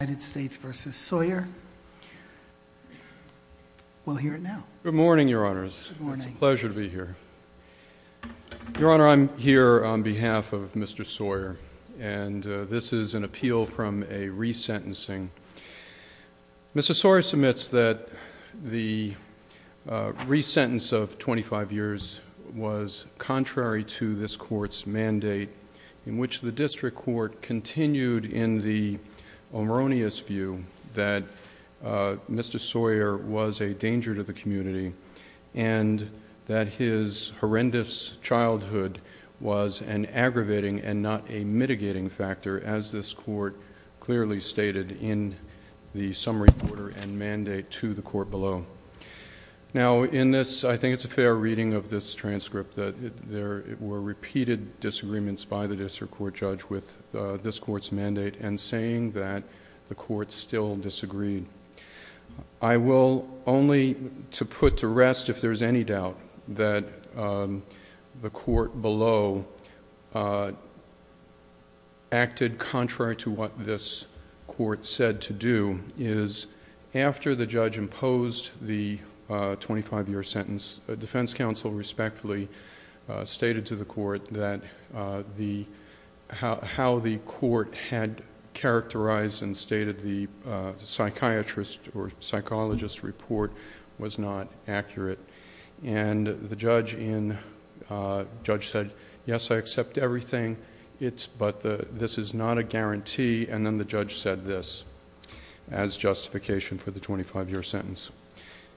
Good morning, Your Honors. It's a pleasure to be here. Your Honor, I'm here on behalf of Mr. Sawyer, and this is an appeal from a re-sentencing. Mr. Sawyer submits that the re-sentence of 25 years was contrary to this Court's mandate in which the District Court continued in the omronious view that Mr. Sawyer was a danger to the community and that his horrendous childhood was an aggravating and not a mitigating factor, as this Court clearly stated in the summary order and mandate to the Court below. Now, in this, I think it's a fair reading of this transcript, that there were repeated disagreements by the District Court judge with this Court's mandate and saying that the Court still disagreed. I will only put to rest, if there's any doubt, that the Court below acted contrary to what this Court said to do, is after the judge imposed the 25-year sentence, the defense counsel respectfully stated to the Court how the Court had characterized and stated the psychiatrist or psychologist report was not accurate. And the judge said, yes, I accept everything, but this is not a guarantee, and then the judge said this as justification for the 25-year sentence.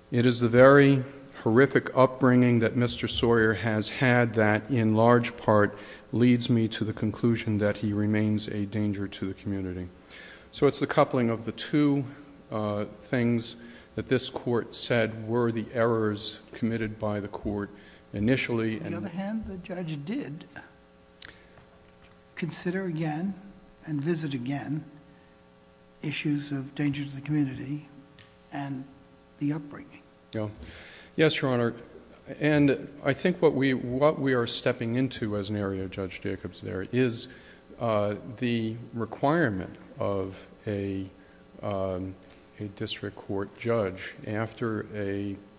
It is the very horrific upbringing that Mr. Sawyer has had that in large part leads me to the conclusion that he remains a danger to the community. So it's the coupling of the two things that this Court said were the errors committed by the Court initially... Yes, Your Honor. And I think what we are stepping into as an area of Judge Jacobs there is the requirement of a District Court judge after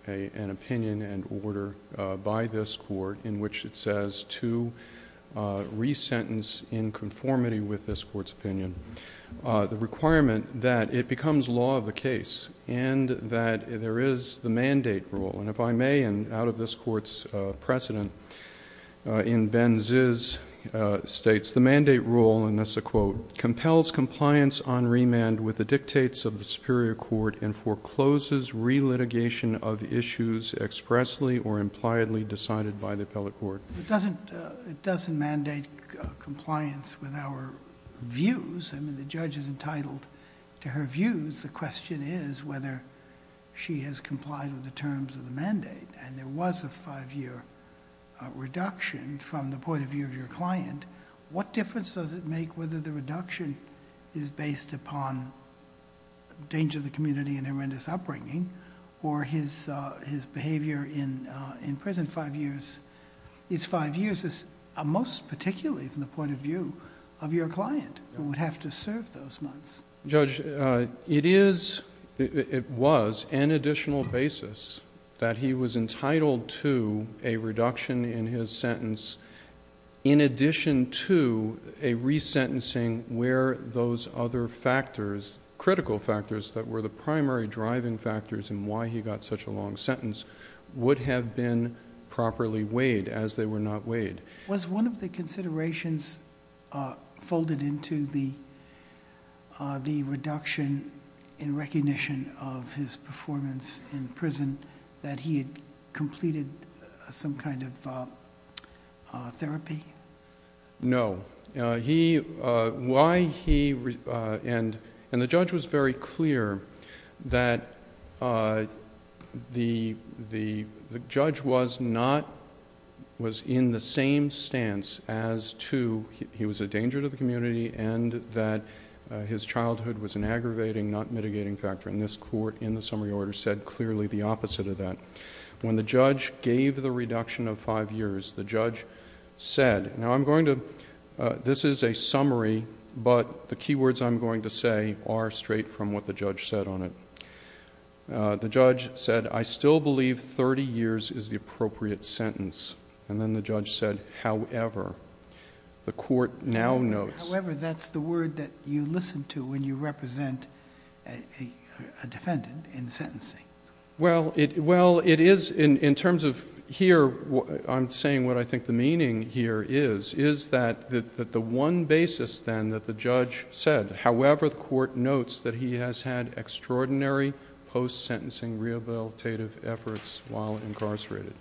an opinion and order by this Court in which it says to re-sentence in conformity with this Court's opinion, the requirement that it becomes law of the case and that there is the mandate rule. And if I may, and out of this Court's precedent, in Ben Ziz's states, the mandate rule, and this is a quote, compels compliance on remand with the dictates of the superior court and forecloses re-litigation of issues expressly or impliedly decided by the appellate court. It doesn't mandate compliance with our views. I mean, the judge is entitled to her views. The question is whether she has complied with the terms of the mandate. And there was a five-year reduction from the point of view of your client. What difference does it make whether the reduction is based upon danger to the community and horrendous upbringing or his behavior in prison five years, his five years is most particularly from the point of view of your client who would have to serve those months? Judge, it is, it was an additional basis that he was entitled to a reduction in his sentence in addition to a re-sentencing where those other factors, critical factors that were the primary driving factors in why he got such a long sentence would have been properly weighed as they were not weighed. Was one of the considerations folded into the reduction in recognition of his performance in prison that he had completed some kind of therapy? No. He, why he, and the judge was very clear that the judge was not, was in the same stance as to, he was a danger to the community and that his childhood was an aggravating, not mitigating factor. And this court in the summary order said clearly the opposite of that. When the judge gave the reduction of five years, the judge said, now I'm going to, this is a summary, but the key words I'm going to say are straight from what the judge said on it. The judge said, I still believe thirty years is the appropriate sentence. And then the judge said, however, the court now notes... However, that's the word that you listen to when you represent a defendant in sentencing. Well, it, well, it is in, in terms of here, I'm saying what I think the meaning here is, is that the, that the one basis then that the judge said, however, the court notes that he has had extraordinary post-sentencing rehabilitative efforts while incarcerated.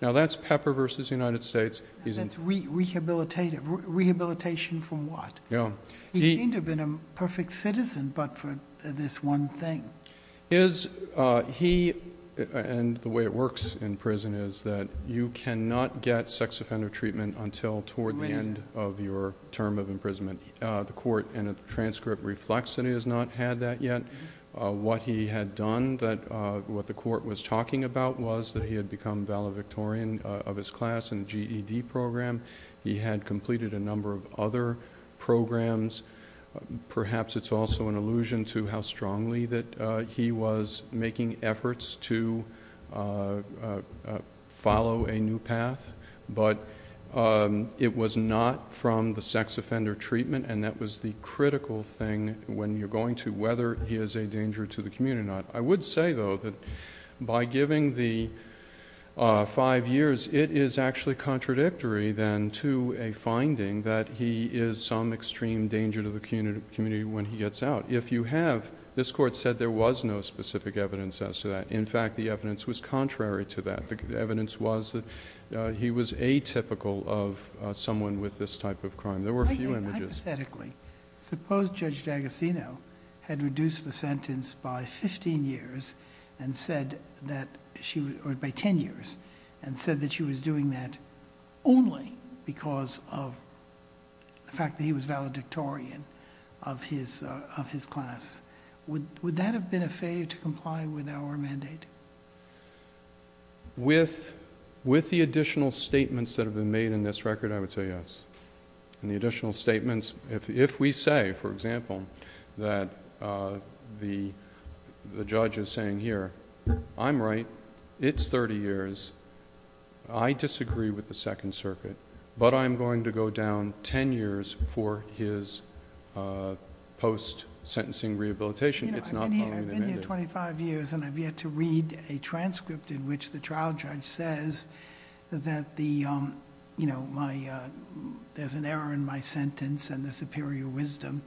Now that's Pepper versus United States. That's rehabilitative. Rehabilitation from what? He seemed to have been a perfect citizen, but for this one thing. Is, he, and the way it works in prison is that you cannot get sex offender treatment until toward the end of your term of imprisonment. The court in a transcript reflects that he has not had that yet. What he had done that, what the court was talking about was that he had become valedictorian of his class in the GED program. He had completed a number of other programs. Perhaps it's also an allusion to how strongly that he was making efforts to follow a new path, but it was not from the sex offender treatment, and that was the critical thing when you're going to whether he is a danger to the community or not. I would say, though, that by giving the five years, it is actually contradictory then to a finding that he is some extreme danger to the community when he gets out. If you have, this court said there was no specific evidence as to that. In fact, the evidence was contrary to that. The evidence was that he was atypical of someone with this type of crime. There were a few images. Hypothetically, suppose Judge D'Agostino had reduced the sentence by 15 years and said that... or by 10 years and said that she was doing that only because of the fact that he was valedictorian of his class. Would that have been a failure to comply with our mandate? With the additional statements that have been made in this record, I would say yes. The additional statements... if we say, for example, that the judge is saying here that I'm right, it's thirty years, I disagree with the Second Circuit, but I'm going to go down ten years for his post-sentencing rehabilitation, it's not going to... I've been here twenty-five years and I've yet to read a transcript in which the trial judge says that there's an error in my sentence and the superior wisdom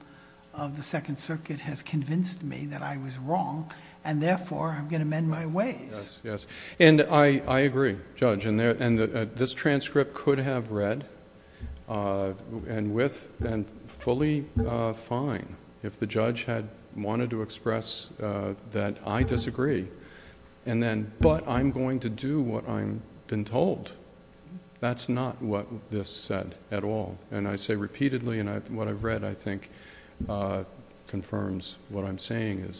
of the Second Circuit has convinced me that I was wrong and therefore I'm going to mend my ways. Yes. I agree, Judge. This transcript could have read and fully fine if the judge had wanted to express that I disagree, but I'm going to do what I've been told. That's not what this said at all. I say repeatedly and what I've read, I think, confirms what I'm saying.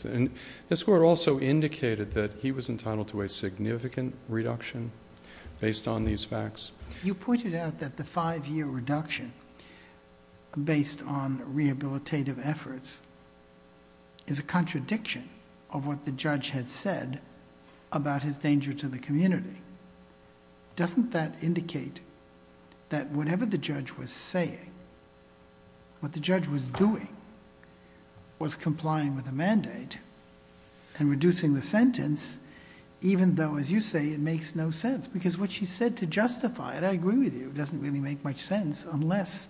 This Court also indicated that he was entitled to a significant reduction based on these facts. You pointed out that the five-year reduction based on rehabilitative efforts is a contradiction of what the judge had said about his danger to the community. Doesn't that indicate that whatever the judge was saying, what the judge was doing was complying with the mandate and reducing the sentence even though, as you say, it makes no sense because what she said to justify it, I agree with you, doesn't really make much sense unless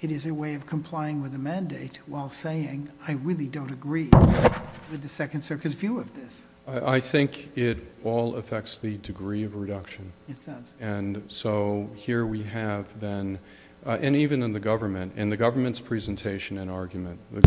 it is a way of complying with the mandate while saying, I really don't agree with the Second Circuit's view of this. I think it all affects the degree of reduction and so here we have then, and even in the government, in the government's presentation and argument, the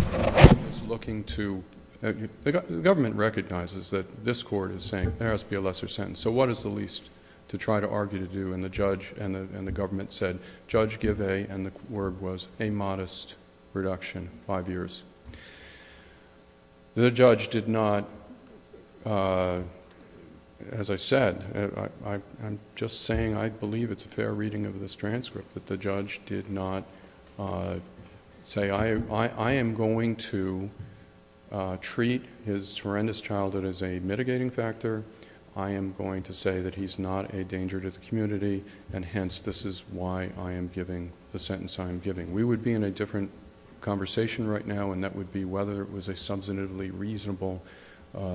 government recognizes that this Court is saying there has to be a lesser sentence, so what is the least to try to argue to do? The judge and the government said, Judge, give a... and the word was a modest reduction, five years. The judge did not, as I said, I'm just saying I believe it's a fair reading of this transcript that the judge did not say, I am going to treat his horrendous childhood as a mitigating factor. I am going to say that he's not a danger to the community and hence this is why I am giving the sentence I am giving. We would be in a different conversation right now and that would be whether it was a substantively reasonable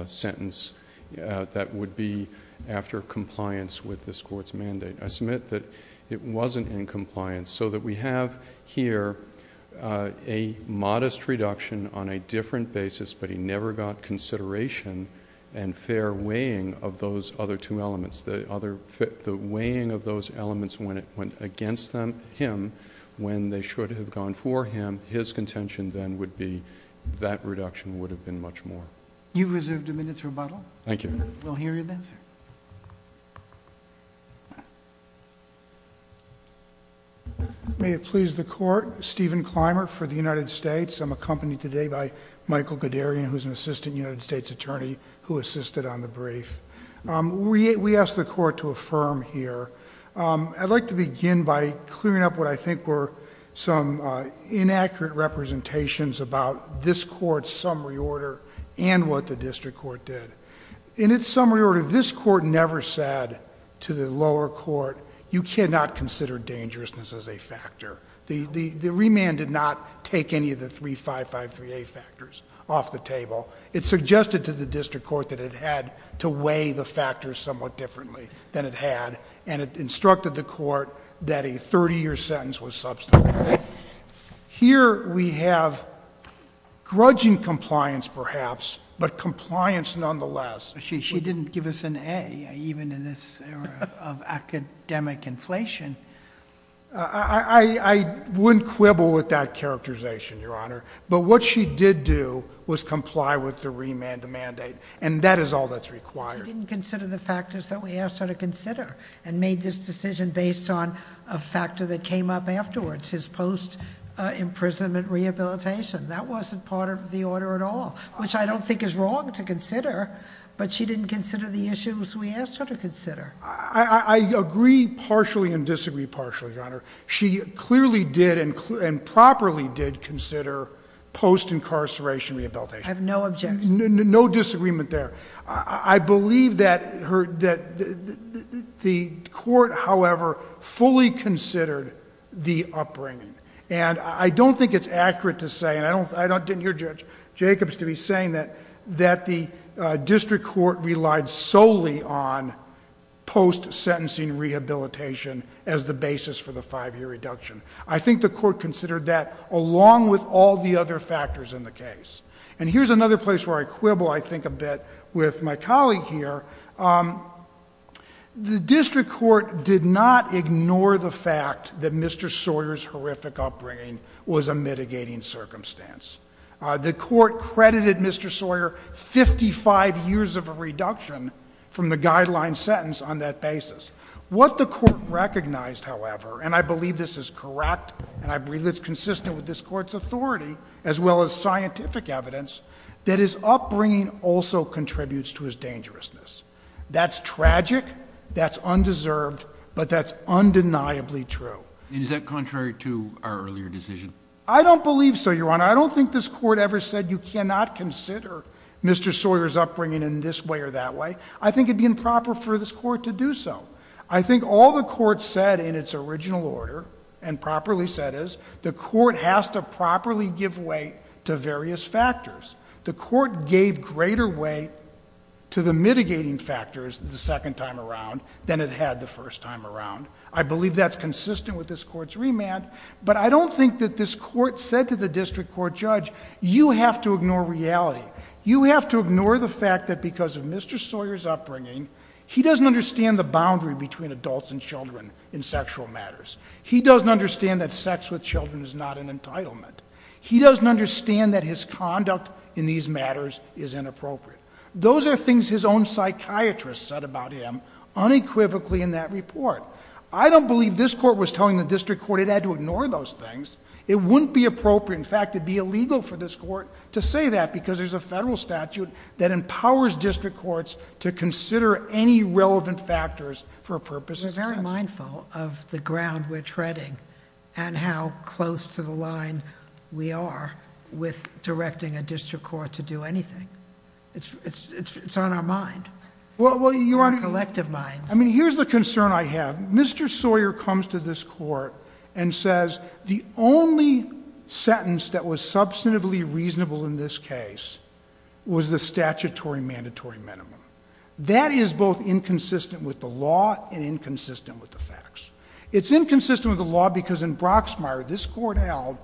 sentence that would be after compliance with this Court's mandate. I submit that it wasn't in compliance so that we have here a modest reduction on a different basis but he never got consideration and fair weighing of those other two elements. The weighing of those elements went against him when they should have gone for him. His contention then would be that reduction would have been much more. You've reserved a minute's rebuttal. Thank you. We'll hear you then, sir. May it please the Court, Stephen Clymer for the United States. I'm accompanied today by Michael Guderian who is an Assistant United States Attorney who assisted on the brief. We ask the Court to affirm here. I'd like to begin by clearing up what I think were some inaccurate representations about this Court's summary order and what the District Court did. In its summary order, this Court never said to the lower court, you cannot consider dangerousness as a factor. The remand did not take any of the 3553A factors off the table. It suggested to the District Court that it had to weigh the factors somewhat differently than it had and it instructed the Court that a 30-year sentence was substantive. Here we have grudging compliance perhaps, but compliance nonetheless. She didn't give us an A, even in this era of academic inflation. I wouldn't quibble with that characterization, Your Honor, but what she did do was comply with the remand mandate and that is all that's required. She didn't consider the factors that we asked her to consider and made this decision based on a factor that came up afterwards, his post-imprisonment rehabilitation. That wasn't part of the order at all, which I don't think is wrong to consider, but she didn't consider the issues we asked her to consider. I agree partially and disagree partially, Your Honor. She clearly did and properly did consider post-incarceration rehabilitation. I have no objection. No disagreement there. I believe that the Court, however, fully considered the upbringing. I don't think it's accurate to say, and I didn't hear Judge Jacobs to be saying that the District Court relied solely on post-sentencing rehabilitation as the basis for the five-year reduction. I think the Court considered that along with all the other factors in the case. Here's another place where I quibble, I think, a bit with my colleague here. The District Court did not ignore the fact that Mr. Sawyer's horrific upbringing was a mitigating circumstance. The Court credited Mr. Sawyer 55 years of a reduction from the guideline sentence on that basis. What the Court recognized, however, and I believe this is correct and I believe it's evidence, that his upbringing also contributes to his dangerousness. That's tragic, that's undeserved, but that's undeniably true. And is that contrary to our earlier decision? I don't believe so, Your Honor. I don't think this Court ever said you cannot consider Mr. Sawyer's upbringing in this way or that way. I think it'd be improper for this Court to do so. I think all the Court said in its original order and properly said is the Court has to properly give way to various factors. The Court gave greater weight to the mitigating factors the second time around than it had the first time around. I believe that's consistent with this Court's remand. But I don't think that this Court said to the District Court judge, you have to ignore reality. You have to ignore the fact that because of Mr. Sawyer's upbringing, he doesn't understand the boundary between adults and children in sexual matters. He doesn't understand that sex with children is not an entitlement. He doesn't understand that his conduct in these matters is inappropriate. Those are things his own psychiatrist said about him unequivocally in that report. I don't believe this Court was telling the District Court it had to ignore those things. It wouldn't be appropriate, in fact, it'd be illegal for this Court to say that because there's a federal statute that empowers District Courts to consider any relevant factors for purposes of sentencing. I'm not mindful of the ground we're treading and how close to the line we are with directing a District Court to do anything. It's on our mind, our collective minds. Here's the concern I have. Mr. Sawyer comes to this Court and says the only sentence that was substantively reasonable in this case was the statutory mandatory minimum. That is both inconsistent with the law and inconsistent with the facts. It's inconsistent with the law because in Broxmire this Court held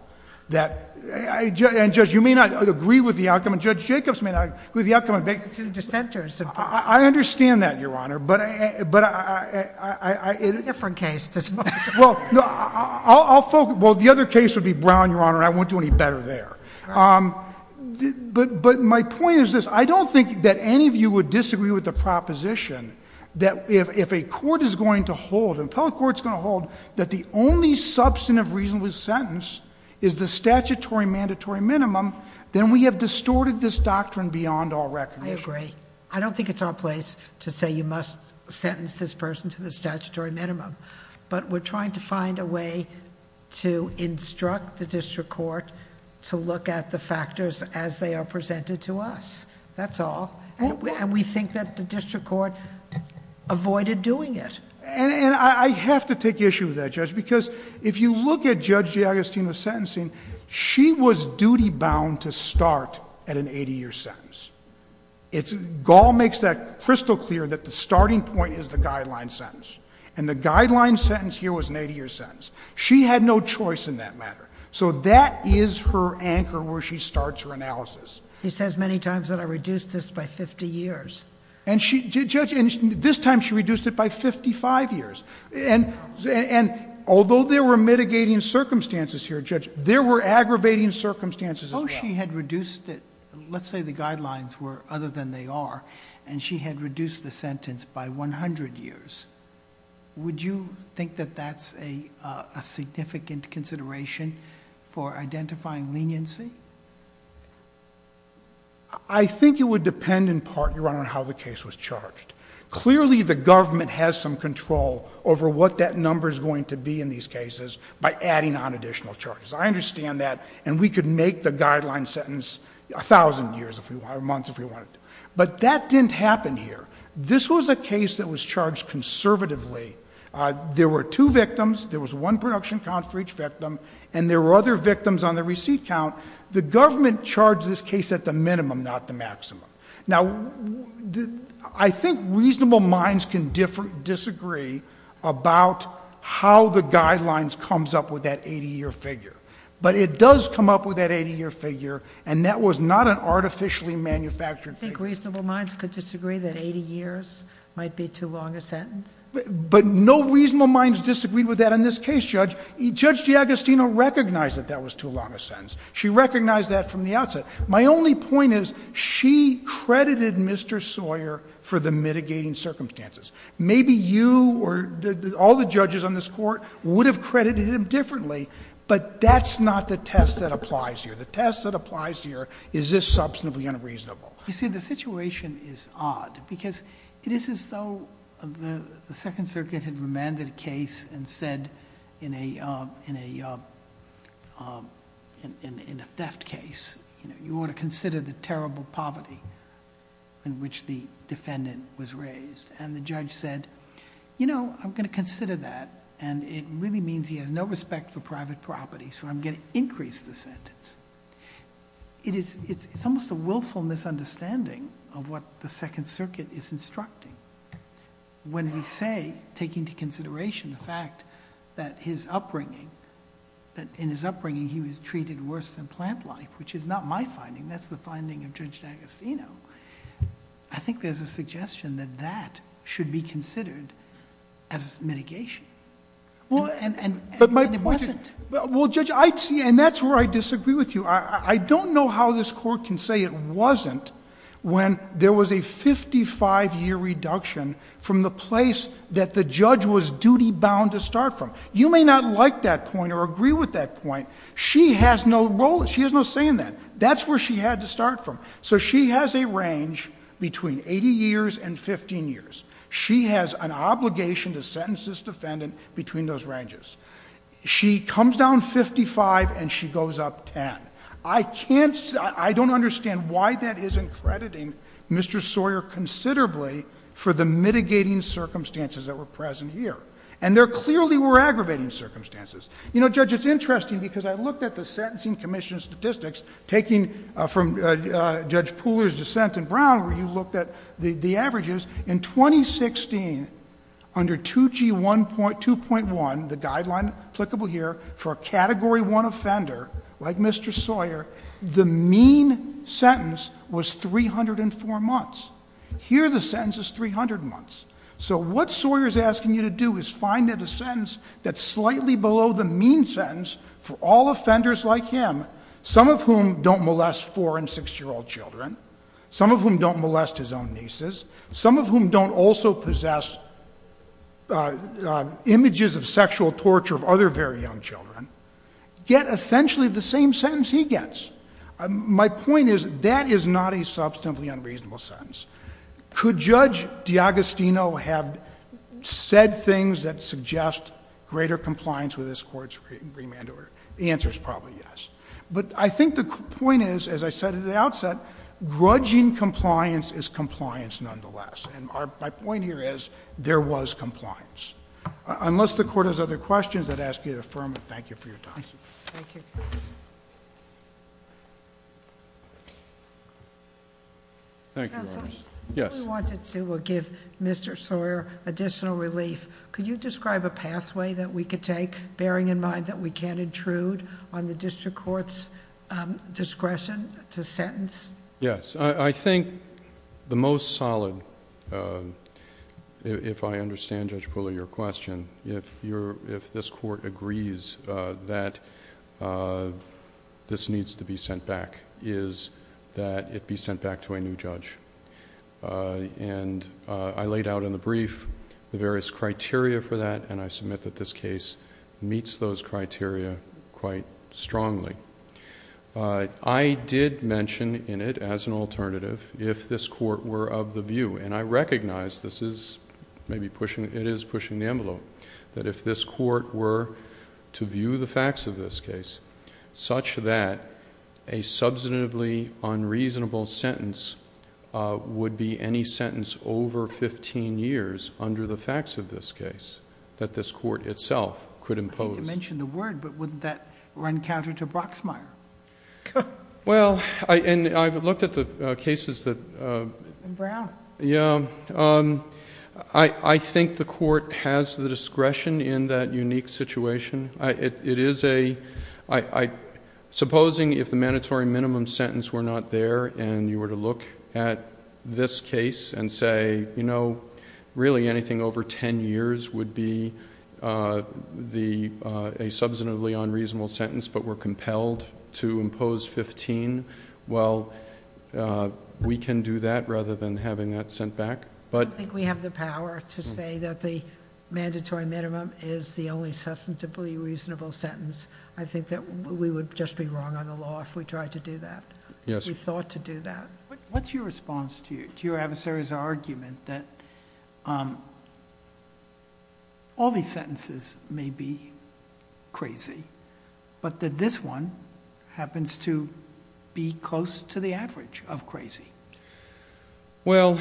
that, and Judge, you may not agree with the outcome, and Judge Jacobs may not agree with the outcome. The two dissenters. I understand that, Your Honor, but I... A different case. Well, the other case would be Brown, Your Honor, and I won't do any better there. But my point is this. I don't think that any of you would disagree with the proposition that if a court is going to hold, an appellate court is going to hold, that the only substantive reasonable sentence is the statutory mandatory minimum, then we have distorted this doctrine beyond all recognition. I agree. I don't think it's our place to say you must sentence this person to the statutory minimum, but we're trying to find a way to instruct the District Court to look at the statute presented to us. That's all. And we think that the District Court avoided doing it. And I have to take issue with that, Judge, because if you look at Judge Giagostino's sentencing, she was duty-bound to start at an 80-year sentence. It's... Gall makes that crystal clear that the starting point is the guideline sentence, and the guideline sentence here was an 80-year sentence. She had no choice in that matter. So that is her analysis. He says many times that I reduced this by 50 years. And she... Judge, this time she reduced it by 55 years. And although there were mitigating circumstances here, Judge, there were aggravating circumstances as well. So she had reduced it... let's say the guidelines were other than they are, and she had reduced the sentence by 100 years. Would you think that that's a significant consideration for identifying leniency? I think it would depend, in part, Your Honor, on how the case was charged. Clearly, the government has some control over what that number is going to be in these cases by adding on additional charges. I understand that, and we could make the guideline sentence 1,000 years or months if we wanted to. But that didn't happen here. This was a case that was charged conservatively. There were two victims. There was one production count for each victim, and there were other victims on the receipt count. The government charged this case at the minimum, not the maximum. Now, I think reasonable minds can disagree about how the guidelines comes up with that 80-year figure. But it does come up with that 80-year figure, and that was not an artificially manufactured figure. Do you think reasonable minds could disagree that 80 years might be too long a sentence? But no reasonable minds disagreed with that in this case, Judge. Judge Giagostino recognized that that was too long a sentence. She recognized that from the outset. My only point is, she credited Mr. Sawyer for the mitigating circumstances. Maybe you or all the judges on this Court would have credited him differently, but that's not the test that applies here. The test that applies here is, is this substantively unreasonable? You see, the situation is odd, because it is as though the Second Circuit had remanded a case and said in a theft case, you ought to consider the terrible poverty in which the defendant was raised. The judge said, you know, I'm going to consider that, and it really means he has no respect for private property, so I'm going to increase the sentence. It's almost a willful misunderstanding of what the Second Circuit is instructing. When we say, take into consideration the fact that in his upbringing, he was treated worse than plant life, which is not my finding. That's the finding of Judge Giagostino. I think there's a suggestion that that should be considered as mitigation. And it wasn't. Well, Judge, and that's where I disagree with you. I don't know how this Court can say it wasn't when there was a fifty-five year reduction from the place that the judge was duty-bound to start from. You may not like that point or agree with that point. She has no role, she has no say in that. That's where she had to start from. So she has a range between eighty years and fifteen years. She has an obligation to sentence this defendant between those ranges. She comes down fifty-five and she goes up ten. I don't understand why that isn't crediting Mr. Sawyer considerably for the mitigating circumstances that were present here. And there clearly were aggravating circumstances. You know, Judge, it's interesting because I looked at the Sentencing Commission statistics, taking from Judge Pooler's dissent in Brown, where you looked at the averages. In 2016, under 2G1... 2.1, the guideline applicable here, for a Category 1 offender like Mr. Sawyer, the mean sentence was three hundred and four months. Here the sentence is three hundred months. So what Sawyer is asking you to do is find a sentence that's slightly below the mean sentence for all offenders like him, some of whom don't molest four and six-year-old children, some of whom don't molest his own nieces, some of whom don't also possess images of sexual torture of other very young children, get essentially the same sentence he gets. My point is, that is not a substantively unreasonable sentence. Could Judge D'Agostino have said things that suggest greater compliance with this Court's remand order? The answer is probably yes. But I think the point is, as I said at the outset, grudging compliance is compliance nonetheless. And my point here is, there was compliance. Unless the Court has other questions, I'd ask you to affirm it. Thank you for your time. Thank you. Counsel. Yes. If we wanted to, we'll give Mr. Sawyer additional relief. Could you describe a pathway that we could take, bearing in mind that we can't intrude on the District Court's discretion to sentence? Yes. I think the most solid, if I understand, Judge Pooler, your question, if this Court agrees that this needs to be sent back, is that it be sent back to a new judge. And I laid out in the brief the various criteria for that, and I submit that this case meets those criteria quite strongly. I did mention in it, as an alternative, if this Court were of the view, and I recognize this is maybe pushing... it is pushing the envelope, that if this Court were to view the facts of this case such that a substantively unreasonable sentence would be any sentence over fifteen years under the facts of this case, that this Court itself could impose... I hate to mention the word, but wouldn't that run counter to Brocksmeier? Well, and I've looked at the cases that... And Brown. Yes. I think the Court has the discretion in that unique situation. It is a... supposing if the mandatory minimum sentence were not there, and you were to look at this case and say, you know, really anything over ten years would be a substantively unreasonable sentence, but we're compelled to impose fifteen, well, we can do that rather than having that sent back, but... I don't think we have the power to say that the mandatory minimum is the only substantively reasonable sentence. I think that we would just be wrong on the law if we tried to do that, if we thought to do that. What's your response to your adversary's argument that all these sentences may be crazy, but that this one happens to be close to the average of crazy? Well,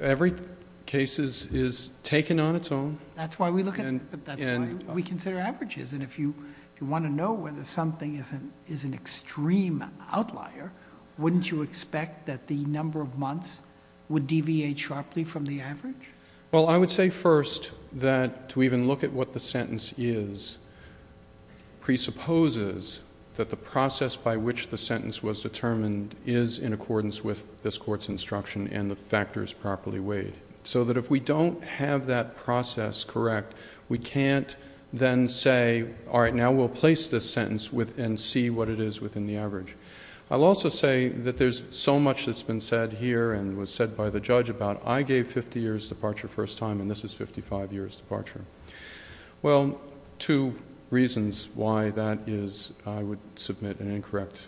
every case is taken on its own. That's why we look at... that's why we consider averages, and if you want to know whether something is an extreme outlier, wouldn't you expect that the number of months would deviate sharply from the average? Well, I would say first that to even look at what the sentence is presupposes that the process by which the sentence was determined is in accordance with this Court's instruction and the factors properly weighed, so that if we don't have that process correct, we can't then say, all right, now we'll place this sentence and see what it is within the average. I'll also say that there's so much that's been said here and was said by the judge about, I gave 50 years departure first time, and this is 55 years departure. Well, two reasons why that is, I would submit, an incorrect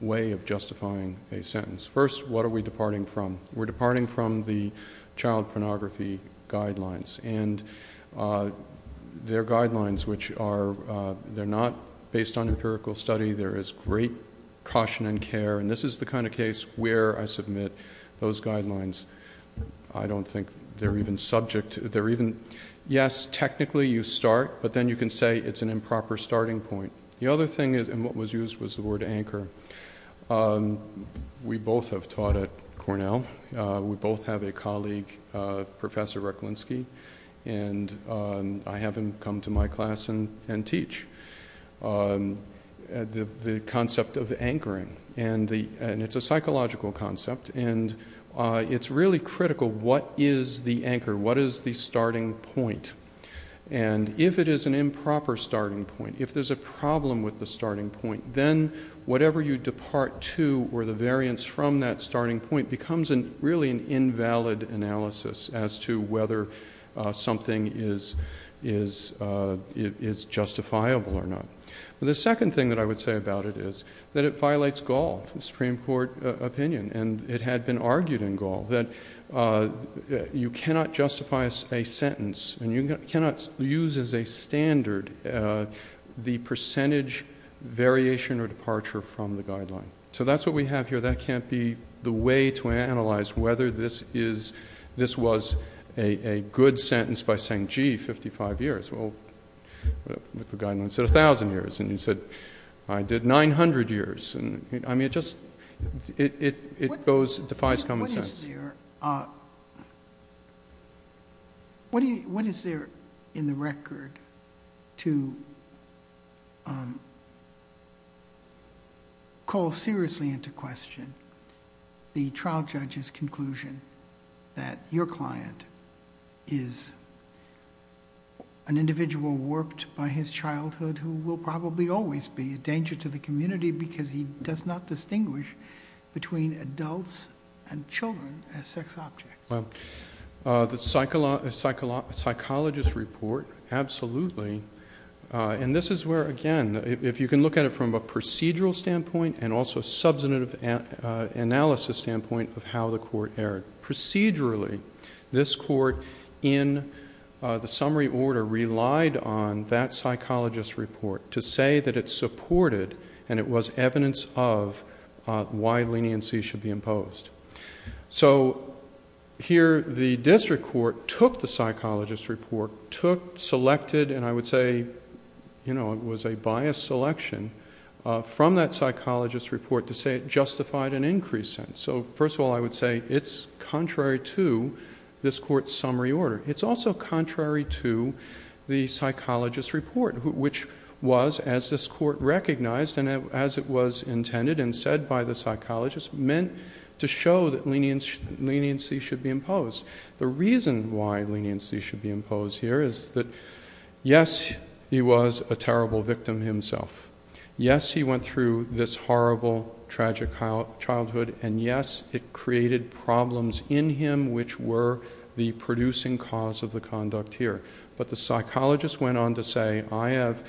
way of justifying a sentence. First, what are we departing from? We're departing from the child pornography guidelines, and they're guidelines which are... they're not based on empirical study. There is great caution and care, and this is the kind of case where I submit those guidelines. I don't think they're even subject... they're even... yes, technically you start, but then you can say it's an improper starting point. The other thing, and what was used was the word anchor. We both have taught at Yale. We both have a colleague, Professor Reklinsky, and I have him come to my class and teach. The concept of anchoring, and it's a psychological concept, and it's really critical, what is the anchor? What is the starting point? And if it is an improper starting point, if there's a problem with the starting point, then whatever you depart to, or the variance from that starting point, becomes really an invalid analysis as to whether something is justifiable or not. The second thing that I would say about it is that it violates Gaul, the Supreme Court opinion, and it had been argued in Gaul that you cannot justify a sentence, and you cannot use as a standard the percentage variation or departure from the guideline. So that's what we have here. That can't be the way to analyze whether this is... this was a good sentence by saying, gee, 55 years. Well, with the guideline, it said 1,000 years, and you said, I did 900 years, and I mean, it just... it goes... it defies common sense. What is there in the record to call seriously into question the trial judge's conclusion that your client is an individual warped by his childhood who will probably always be a danger to the community because he does not distinguish between adults and children as sex objects? Well, the psychologist's report, absolutely, and this is where, again, if you can look at it from a procedural standpoint and also a substantive analysis standpoint of how the court erred. Procedurally, this court in the summary order relied on that psychologist's report to say that it supported, and it was evidence of, why leniency should be imposed. So here, the district court took the psychologist's report, took, selected, and I would say it was a biased selection from that psychologist's report to say it justified an increased sentence. So first of all, I would say it's contrary to this court's summary order. It's also contrary to the psychologist's report, which was, as this court recognized and as it was intended and said by the psychologist, meant to show that leniency should be imposed. The reason why leniency should be imposed here is that, yes, he was a terrible victim himself. Yes, he went through this horrible, tragic childhood, and yes, it created problems in him which were the producing cause of the conduct here. But the psychologist went on to say, I have,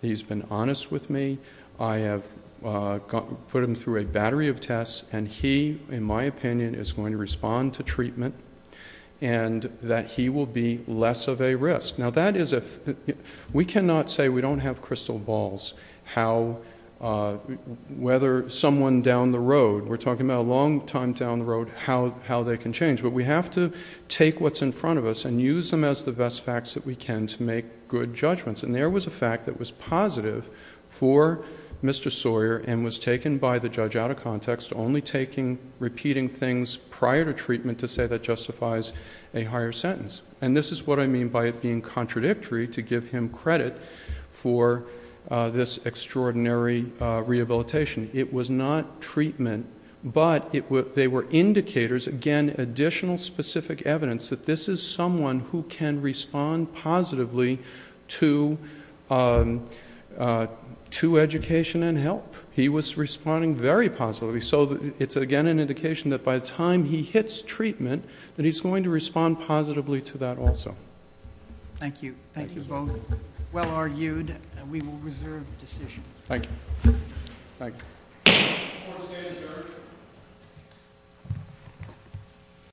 he's been honest with me. I have put him through a battery of tests, and he, in my opinion, is going to respond to treatment, and that he will be less of a risk. Now that is a, we cannot say we don't have crystal balls, how whether someone down the road, we're talking about a long time down the road, how they can change. But we have to take what's in front of us and use them as the best facts that we can to make good judgments. And there was a fact that was positive for Mr. Sawyer and was taken by the judge out of context, only taking, repeating things prior to treatment to say that justifies a higher sentence. And this is what I mean by it being contradictory to give him credit for this extraordinary rehabilitation. It was not treatment, but they were indicators, again, additional specific evidence that this is someone who can respond positively to education and help. He was responding very positively. So it's again an indication that by the time he hits treatment, that he's going to respond positively to that also. Thank you. Thank you both. Well argued. We will reserve the decision. Thank you. Thank you. Court is adjourned.